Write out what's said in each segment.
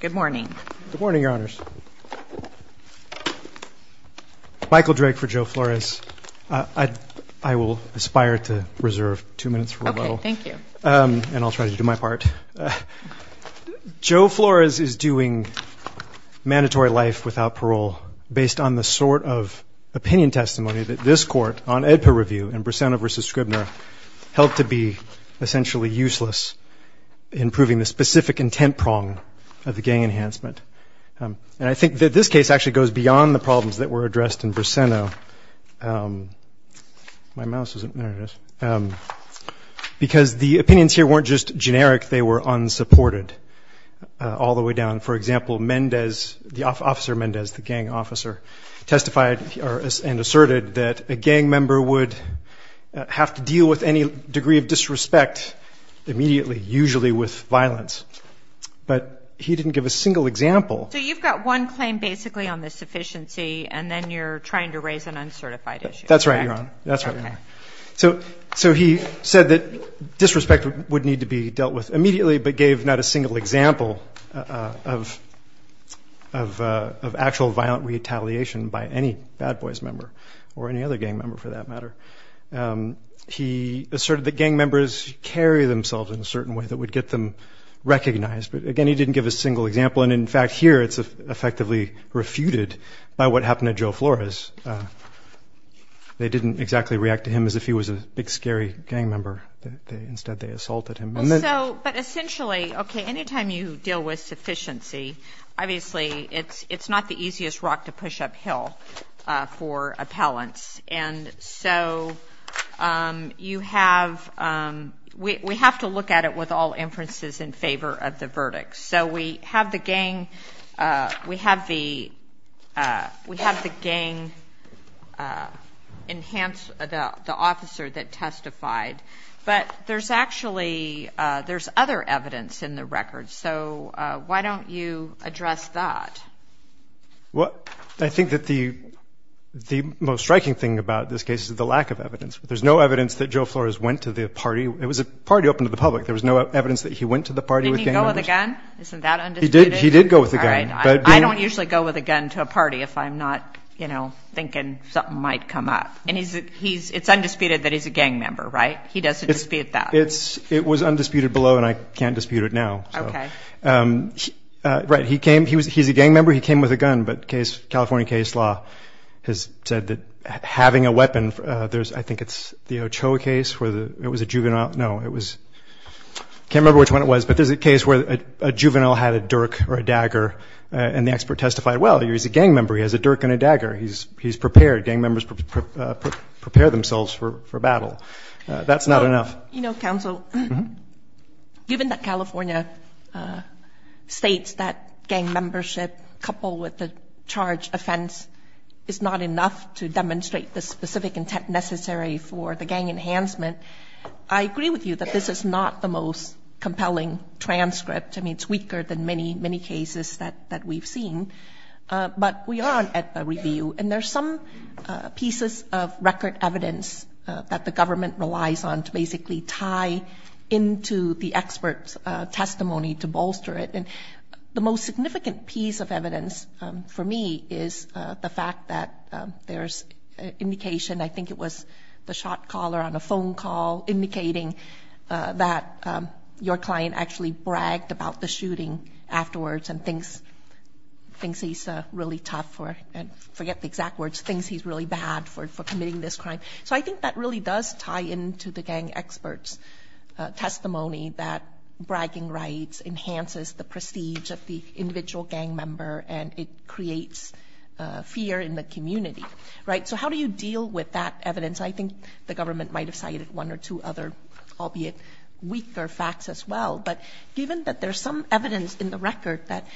Good morning. Good morning, Your Honors. Michael Drake for Joe Flores. I will aspire to reserve two minutes for a moment. Okay, thank you. And I'll try to do my part. Joe Flores is doing mandatory life without parole based on the sort of opinion testimony that this Court, on AEDPA review and Briseno v. Scribner, held to be essentially useless in proving the specific intent prong of the gang enhancement. And I think that this case actually goes beyond the problems that were addressed in Briseno because the opinions here weren't just generic, they were unsupported all the way down. For example, Officer Mendez, the gang officer, testified and asserted that a gang member would have to deal with any degree of disrespect immediately, usually with violence. But he didn't give a single example. So you've got one claim basically on the sufficiency and then you're trying to raise an uncertified issue. That's right, Your Honor. That's right, Your Honor. So he said that disrespect would need to be dealt with immediately, but gave not a single example of actual violent retaliation by any bad boys member or any other gang member for that matter. He asserted that gang members carry themselves in a certain way that would get them recognized. But again, he didn't give a single example. And in fact, here it's effectively refuted by what happened to Joe Flores. They didn't exactly react to him as if he was a big scary gang member. Instead, they assaulted him. But essentially, okay, any time you deal with sufficiency, obviously it's not the easiest rock to push uphill for appellants. And so you have, we have to look at it with all inferences in favor of the verdict. So we have the gang enhance the officer that testified, but there's actually, there's other evidence in the record. So why don't you address that? Well, I think that the most striking thing about this case is the lack of evidence. There's no evidence that Joe Flores went to the party. It was a party open to the public. There was no evidence that he went to the party with gang members. He didn't go with a gun? Isn't that undisputed? He did go with a gun. I don't usually go with a gun to a party if I'm not, you know, thinking something might come up. And it's undisputed that he's a gang member, right? He doesn't dispute that. It was undisputed below, and I can't dispute it now. Okay. Right. He came, he's a gang member. He came with a gun. But California case law has said that having a weapon, there's, I think it's the Ochoa case where it was a juvenile. No, it was, I can't remember which one it was, but there's a case where a juvenile had a dirk or a dagger, and the expert testified, well, he's a gang member. He has a dirk and a dagger. He's prepared. Gang members prepare themselves for battle. That's not enough. You know, counsel, given that California states that gang membership coupled with the charge offense is not enough to demonstrate the specific intent necessary for the gang enhancement, I agree with you that this is not the most compelling transcript. I mean, it's weaker than many, many cases that we've seen. But we are at the review, and there's some pieces of record evidence that the government relies on to basically tie into the expert's testimony to bolster it. And the most significant piece of evidence for me is the fact that there's indication, and I think it was the shot caller on a phone call indicating that your client actually bragged about the shooting afterwards and thinks he's really tough or, I forget the exact words, thinks he's really bad for committing this crime. So I think that really does tie into the gang expert's testimony that bragging rights enhances the prestige of the individual gang member, and it creates fear in the community. Right? So how do you deal with that evidence? I think the government might have cited one or two other, albeit weaker, facts as well. But given that there's some evidence in the record that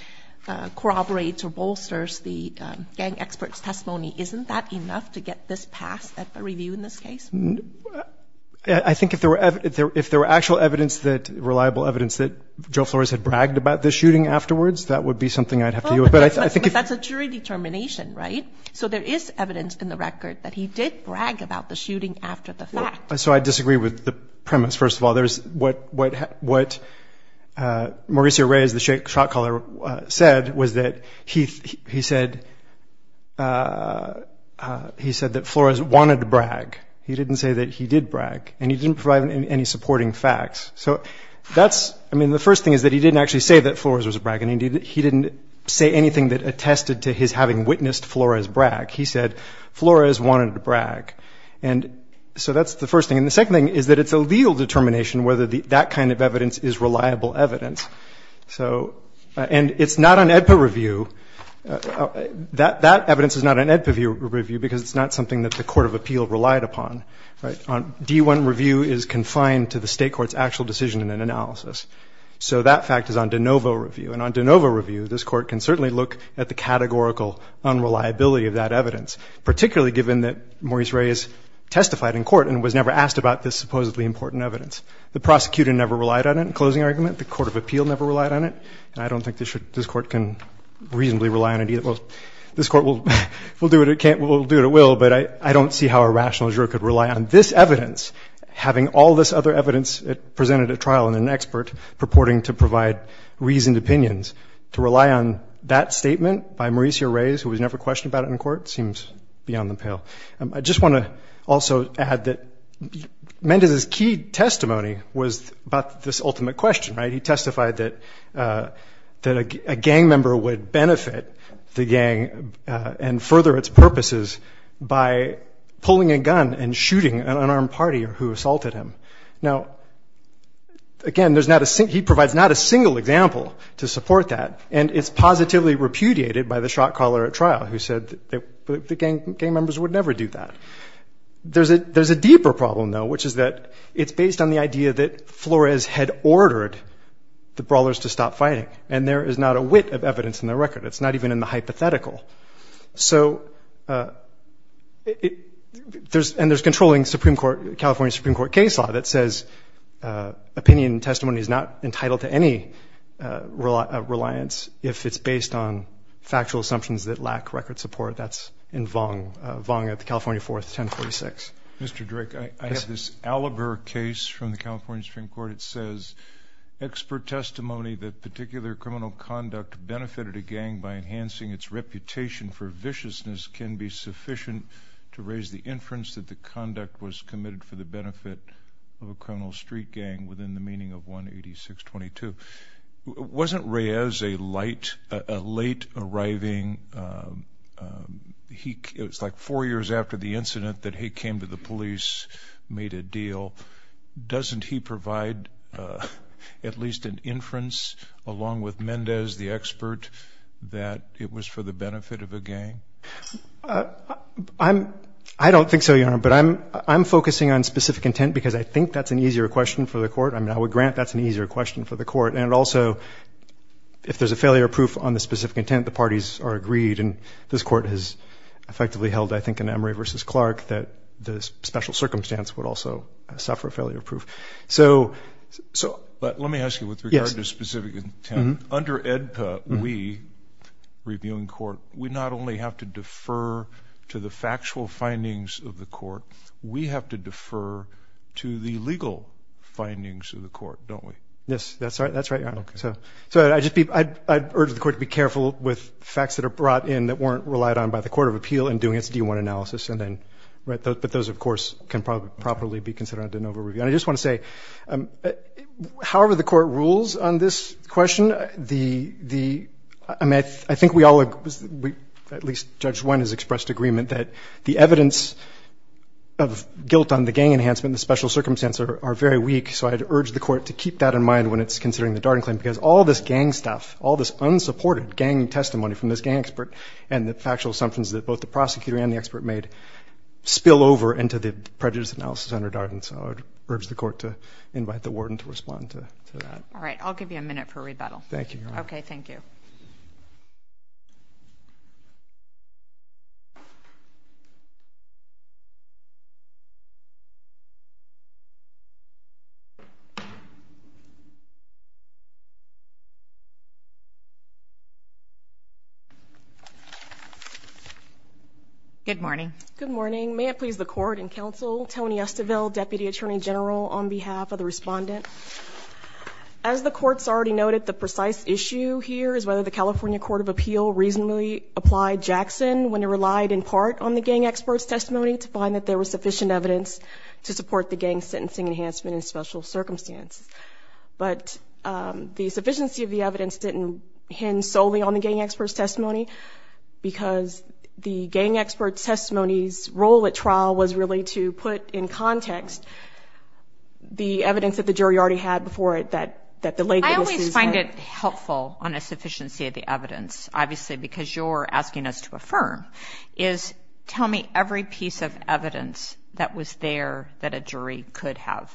corroborates or bolsters the gang expert's testimony, isn't that enough to get this passed at the review in this case? I think if there were actual evidence, reliable evidence that Joe Flores had bragged about the shooting afterwards, that would be something I'd have to deal with. But that's a jury determination, right? So there is evidence in the record that he did brag about the shooting after the fact. So I disagree with the premise, first of all. What Mauricio Reyes, the shot caller, said was that he said that Flores wanted to brag. He didn't say that he did brag, and he didn't provide any supporting facts. So that's, I mean, the first thing is that he didn't actually say that Flores was bragging. He didn't say anything that attested to his having witnessed Flores brag. He said Flores wanted to brag. And so that's the first thing. And the second thing is that it's a legal determination whether that kind of evidence is reliable evidence. And it's not on AEDPA review. That evidence is not on AEDPA review because it's not something that the court of appeal relied upon. D-1 review is confined to the state court's actual decision and analysis. So that fact is on de novo review. And on de novo review, this court can certainly look at the categorical unreliability of that evidence, particularly given that Mauricio Reyes testified in court and was never asked about this supposedly important evidence. The prosecutor never relied on it in closing argument. The court of appeal never relied on it. And I don't think this court can reasonably rely on it either. Well, this court will do what it can't, will do what it will, but I don't see how a rational juror could rely on this evidence, having all this other evidence presented at trial and an expert purporting to provide reasoned opinions. To rely on that statement by Mauricio Reyes, who was never questioned about it in court, seems beyond the pale. I just want to also add that Mendez's key testimony was about this ultimate question, right? He testified that a gang member would benefit the gang and further its purposes by pulling a gun and shooting an unarmed party who assaulted him. Now, again, he provides not a single example to support that, and it's positively repudiated by the shot caller at trial who said that gang members would never do that. There's a deeper problem, though, which is that it's based on the idea that Flores had ordered the brawlers to stop fighting, and there is not a whit of evidence in the record. It's not even in the hypothetical. And there's controlling California Supreme Court case law that says opinion testimony is not entitled to any reliance if it's based on factual assumptions that lack record support. That's in Vong at the California 4th 1046. Mr. Drake, I have this Allaguer case from the California Supreme Court. It says, expert testimony that particular criminal conduct benefited a gang by enhancing its reputation for viciousness can be sufficient to raise the inference that the conduct was committed for the benefit of a criminal street gang within the meaning of 18622. Wasn't Reyes a late-arriving, it was like four years after the incident that he came to the police, made a deal? Doesn't he provide at least an inference, along with Mendez, the expert, that it was for the benefit of a gang? I don't think so, Your Honor, but I'm focusing on specific intent because I think that's an easier question for the court. I mean, I would grant that's an easier question for the court. And also, if there's a failure proof on the specific intent, the parties are agreed, and this court has effectively held, I think, in Emory v. Clark that the special circumstance would also suffer a failure proof. But let me ask you, with regard to specific intent, under AEDPA, we, reviewing court, we not only have to defer to the factual findings of the court, we have to defer to the legal findings of the court, don't we? Yes, that's right, Your Honor. Okay. So I'd urge the court to be careful with facts that are brought in that weren't relied on by the court of appeal in doing its D-1 analysis, but those, of course, can probably be considered under NOVA review. And I just want to say, however the court rules on this question, I think we all, at least Judge Wynne has expressed agreement, that the evidence of guilt on the gang enhancement and the special circumstance are very weak, so I'd urge the court to keep that in mind when it's considering the Darden claim, because all this gang stuff, all this unsupported gang testimony from this gang expert and the factual assumptions that both the prosecutor and the expert made spill over into the prejudice analysis under Darden, so I'd urge the court to invite the warden to respond to that. All right. I'll give you a minute for rebuttal. Thank you, Your Honor. Okay, thank you. Good morning. Good morning. May it please the court and counsel, Tony Estiville, Deputy Attorney General, on behalf of the respondent. As the court's already noted, the precise issue here is whether the California Court of Appeal reasonably applied Jackson when it relied in part on the gang expert's testimony to find that there was sufficient evidence to support the gang sentencing enhancement and special circumstance. But the sufficiency of the evidence didn't hinge solely on the gang expert's testimony, because the gang expert's testimony's role at trial was really to put in context the evidence that the jury already had before it that delayed the decision. I always find it helpful on a sufficiency of the evidence, obviously, because you're asking us to affirm, is tell me every piece of evidence that was there that a jury could have.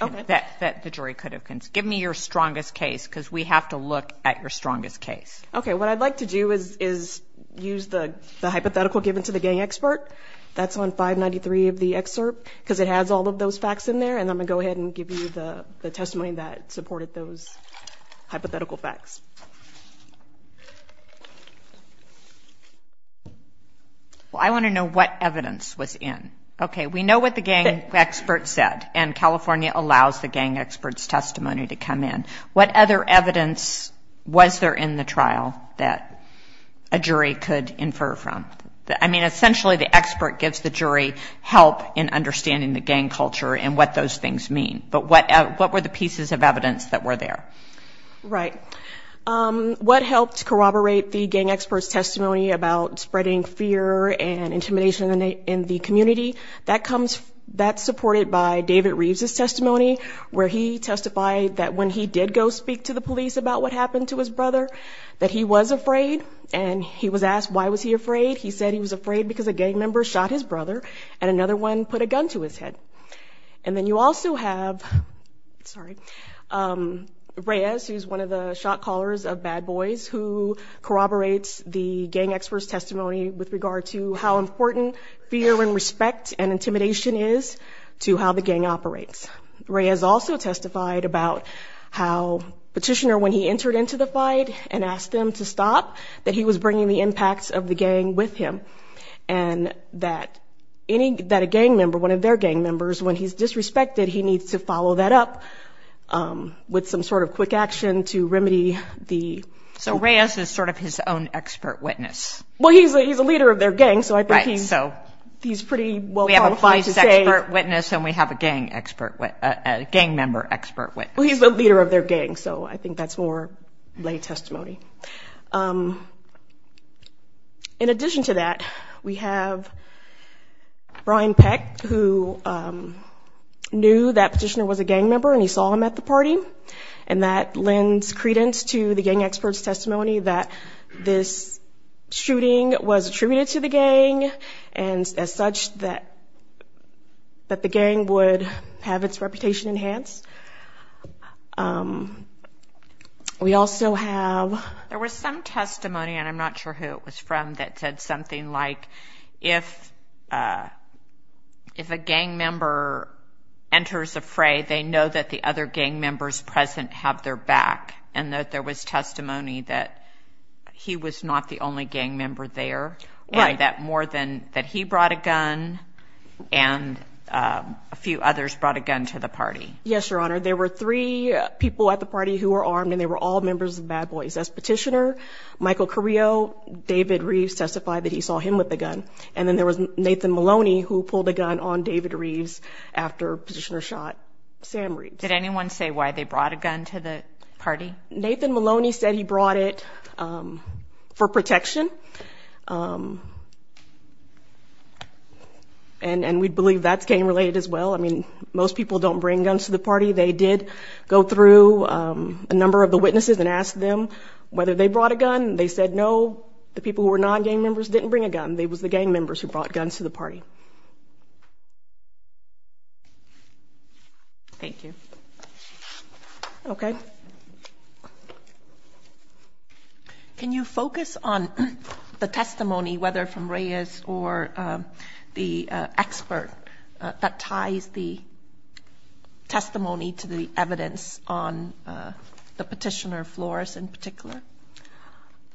Okay. That the jury could have. Give me your strongest case, because we have to look at your strongest case. Okay. What I'd like to do is use the hypothetical given to the gang expert. That's on 593 of the excerpt, because it has all of those facts in there, and I'm going to go ahead and give you the testimony that supported those hypothetical facts. Well, I want to know what evidence was in. Okay. We know what the gang expert said, and California allows the gang expert's testimony to come in. What other evidence was there in the trial that a jury could infer from? I mean, essentially, the expert gives the jury help in understanding the gang culture and what those things mean, but what were the pieces of evidence that were there? Right. What helped corroborate the gang expert's testimony about spreading fear and intimidation in the community, that's supported by David Reeves' testimony, where he testified that when he did go speak to the police about what happened to his brother, that he was afraid, and he was asked why was he afraid. He said he was afraid because a gang member shot his brother, and another one put a gun to his head. And then you also have Reyes, who's one of the shot callers of Bad Boys, who corroborates the gang expert's testimony with regard to how important fear and respect and intimidation is to how the gang operates. Reyes also testified about how Petitioner, when he entered into the fight and asked them to stop, that he was bringing the impacts of the gang with him, and that a gang member, one of their gang members, when he's disrespected, he needs to follow that up with some sort of quick action to remedy the... So Reyes is sort of his own expert witness. Well, he's a leader of their gang, so I think he's pretty well qualified to say... We have a police expert witness and we have a gang member expert witness. Well, he's the leader of their gang, so I think that's more lay testimony. In addition to that, we have Brian Peck, who knew that Petitioner was a gang member and he saw him at the party, and that lends credence to the gang expert's testimony that this shooting was attributed to the gang and as such that the gang would have its reputation enhanced. We also have... There was some testimony, and I'm not sure who it was from, that said something like, if a gang member enters a fray, they know that the other gang members present have their back and that there was testimony that he was not the only gang member there and that more than that he brought a gun and a few others brought a gun to the party. Yes, Your Honor, there were three people at the party who were armed and they were all members of Bad Boys. That's Petitioner, Michael Carrillo, David Reeves testified that he saw him with a gun, and then there was Nathan Maloney who pulled a gun on David Reeves after Petitioner shot Sam Reeves. Did anyone say why they brought a gun to the party? Nathan Maloney said he brought it for protection. And we believe that's gang-related as well. I mean, most people don't bring guns to the party. They did go through a number of the witnesses and ask them whether they brought a gun. They said no, the people who were non-gang members didn't bring a gun. They were the gang members who brought guns to the party. Thank you. Okay. Can you focus on the testimony, whether from Reyes or the expert, that ties the testimony to the evidence on the Petitioner floors in particular?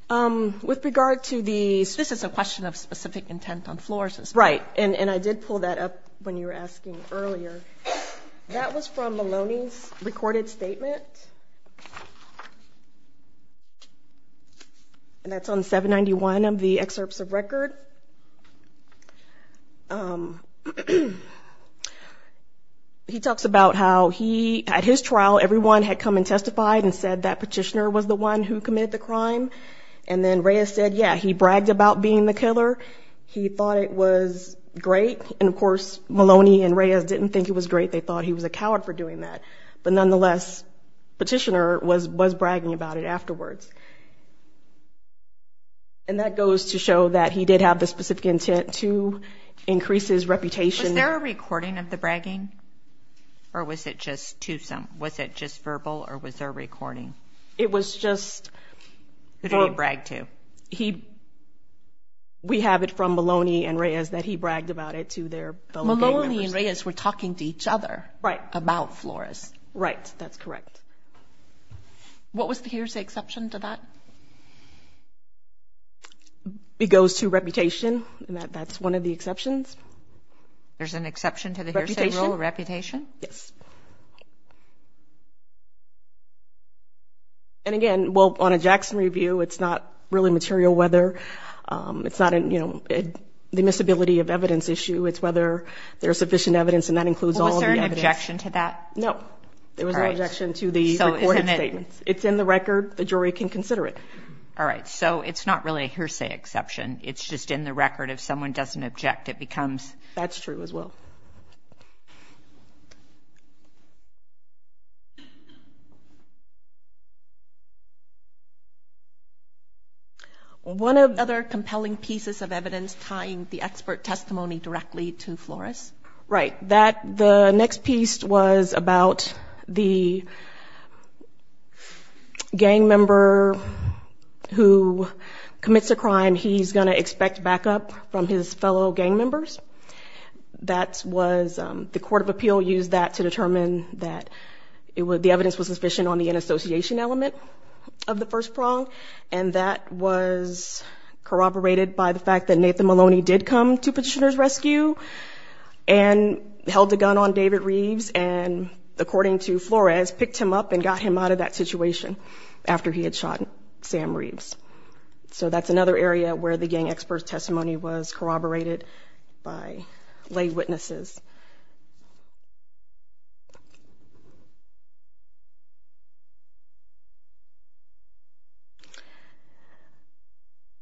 With regard to the – this is a question of specific intent on floors. Right, and I did pull that up when you were asking earlier. That was from Maloney's recorded statement. And that's on 791 of the excerpts of record. He talks about how he, at his trial, everyone had come and testified and said that Petitioner was the one who committed the crime. And then Reyes said, yeah, he bragged about being the killer. He thought it was great. And, of course, Maloney and Reyes didn't think it was great. They thought he was a coward for doing that. But nonetheless, Petitioner was bragging about it afterwards. And that goes to show that he did have the specific intent to increase his reputation. Was there a recording of the bragging, or was it just verbal, or was there a recording? It was just – Who did he brag to? He – we have it from Maloney and Reyes that he bragged about it to their fellow gang members. Maloney and Reyes were talking to each other about Flores. Right, that's correct. What was the hearsay exception to that? It goes to reputation, and that's one of the exceptions. There's an exception to the hearsay rule, reputation? Reputation, yes. And, again, well, on a Jackson review, it's not really material whether. It's not, you know, the miscibility of evidence issue. It's whether there's sufficient evidence, and that includes all of the evidence. Well, was there an objection to that? No, there was no objection to the recorded statements. It's in the record. The jury can consider it. All right, so it's not really a hearsay exception. It's just in the record. If someone doesn't object, it becomes – That's true as well. All right. One of the other compelling pieces of evidence tying the expert testimony directly to Flores. Right. The next piece was about the gang member who commits a crime. He's going to expect backup from his fellow gang members. That was – the court of appeal used that to determine that the evidence was sufficient on the inassociation element of the first prong, and that was corroborated by the fact that Nathan Maloney did come to Petitioner's Rescue and held a gun on David Reeves and, according to Flores, picked him up and got him out of that situation after he had shot Sam Reeves. So that's another area where the gang expert's testimony was corroborated by lay witnesses.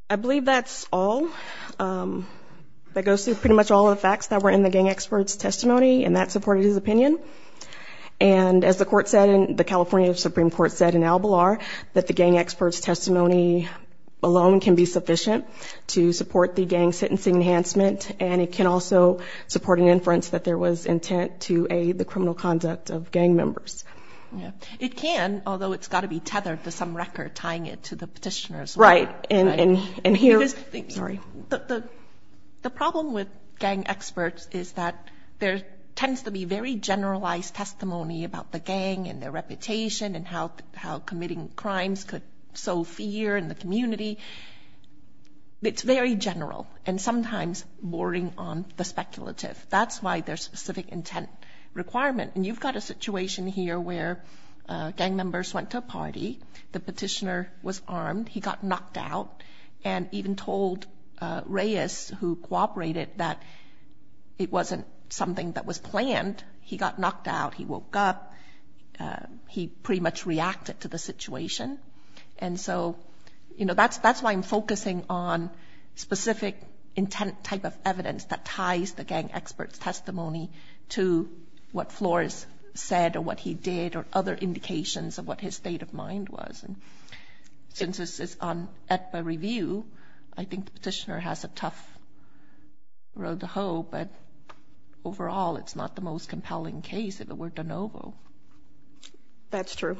I believe that's all. That goes through pretty much all of the facts that were in the gang expert's testimony, and that supported his opinion. And as the court said and the California Supreme Court said in Al Balar, that the gang expert's testimony alone can be sufficient to support the gang sentencing enhancement, and it can also support an inference that there was intent to aid the criminal conduct of gang members. It can, although it's got to be tethered to some record tying it to the petitioner's record. Right. And here – sorry. The problem with gang experts is that there tends to be very generalized testimony about the gang and their reputation and how committing crimes could sow fear in the community. It's very general and sometimes boring on the speculative. That's why there's specific intent requirement. And you've got a situation here where gang members went to a party. The petitioner was armed. He got knocked out and even told Reyes, who cooperated, that it wasn't something that was planned. He got knocked out. He woke up. He pretty much reacted to the situation. And so, you know, that's why I'm focusing on specific intent type of evidence that ties the gang expert's testimony to what Flores said or what he did or other indications of what his state of mind was. And since this is on ETPA review, I think the petitioner has a tough road to hoe, but overall it's not the most compelling case if it were de novo. That's true.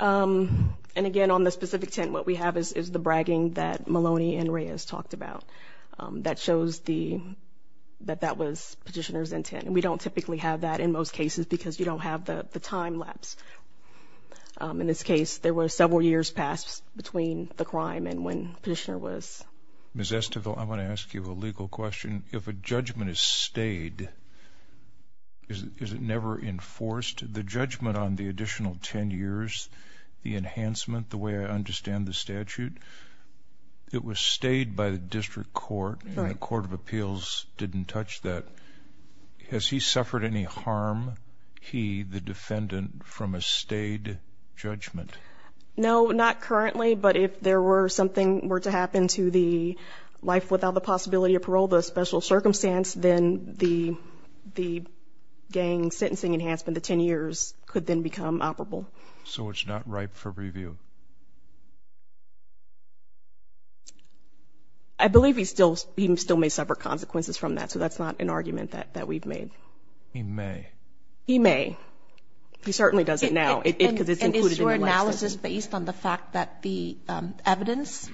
And, again, on the specific intent, what we have is the bragging that Maloney and Reyes talked about. That shows that that was petitioner's intent. And we don't typically have that in most cases because you don't have the time lapse. In this case, there were several years passed between the crime and when petitioner was. Ms. Estovil, I want to ask you a legal question. If a judgment is stayed, is it never enforced? The judgment on the additional ten years, the enhancement, the way I understand the statute, it was stayed by the district court and the court of appeals didn't touch that. Has he suffered any harm, he, the defendant, from a stayed judgment? No, not currently. But if there were something were to happen to the life without the possibility of parole, the special circumstance, then the gang sentencing enhancement, the ten years, could then become operable. So it's not ripe for review? I believe he still may suffer consequences from that. So that's not an argument that we've made. He may. He may. He certainly doesn't now because it's included in the license. So is this based on the fact that the evidence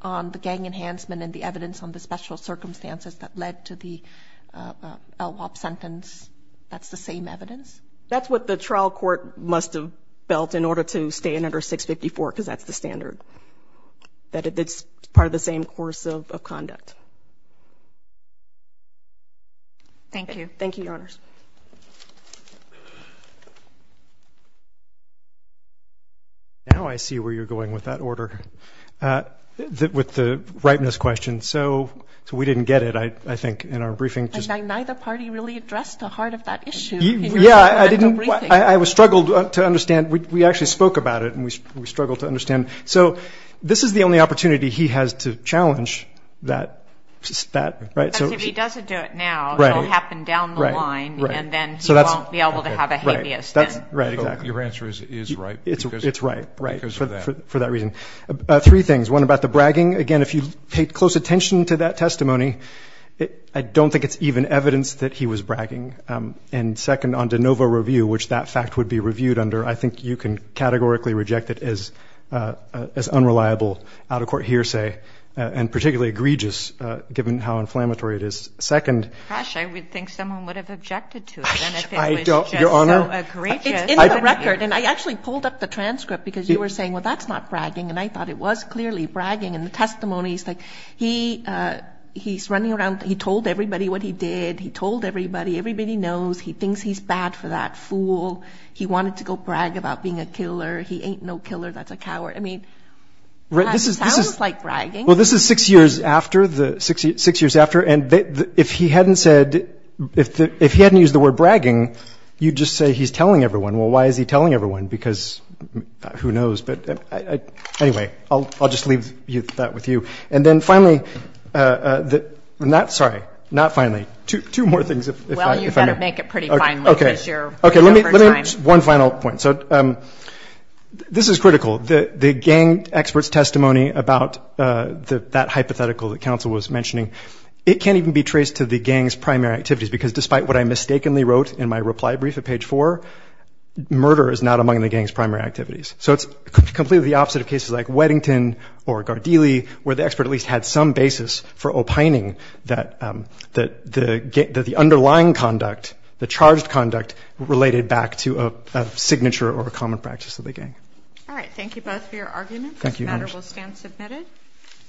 on the gang enhancement and the evidence on the special circumstances that led to the LWOP sentence, that's the same evidence? That's what the trial court must have built in order to stay in under 654 because that's the standard. That it's part of the same course of conduct. Thank you. Thank you, Your Honors. Now I see where you're going with that order, with the ripeness question. So we didn't get it, I think, in our briefing. And neither party really addressed the heart of that issue. Yeah, I didn't. I struggled to understand. We actually spoke about it, and we struggled to understand. So this is the only opportunity he has to challenge that, right? Because if he doesn't do it now, it will happen down the line, and then he won't be able to have a habeas then. Right, exactly. Your answer is right. It's right, right, for that reason. Three things. One, about the bragging. Again, if you paid close attention to that testimony, I don't think it's even evidence that he was bragging. And second, on de novo review, which that fact would be reviewed under, I think you can categorically reject it as unreliable, out-of-court hearsay, and particularly egregious, given how inflammatory it is. Second. I don't, Your Honor. Egregious. It's in the record. And I actually pulled up the transcript because you were saying, well, that's not bragging. And I thought it was clearly bragging. And the testimony is like, he's running around, he told everybody what he did. He told everybody. Everybody knows. He thinks he's bad for that fool. He wanted to go brag about being a killer. He ain't no killer. That's a coward. I mean, that sounds like bragging. Well, this is six years after. And if he hadn't said, if he hadn't used the word bragging, you'd just say he's telling everyone. Well, why is he telling everyone? Because who knows. But anyway, I'll just leave that with you. And then finally, not sorry, not finally. Two more things, if I may. Well, you've got to make it pretty finally because you're running out of time. Okay. Let me make one final point. So this is critical. The gang expert's testimony about that hypothetical that counsel was mentioning, it can't even be traced to the gang's primary activities because, despite what I mistakenly wrote in my reply brief at page four, murder is not among the gang's primary activities. So it's completely the opposite of cases like Weddington or Gardili, where the expert at least had some basis for opining that the underlying conduct, the charged conduct, related back to a signature or a common practice of the gang. All right. Thank you both for your arguments. This matter will stand submitted.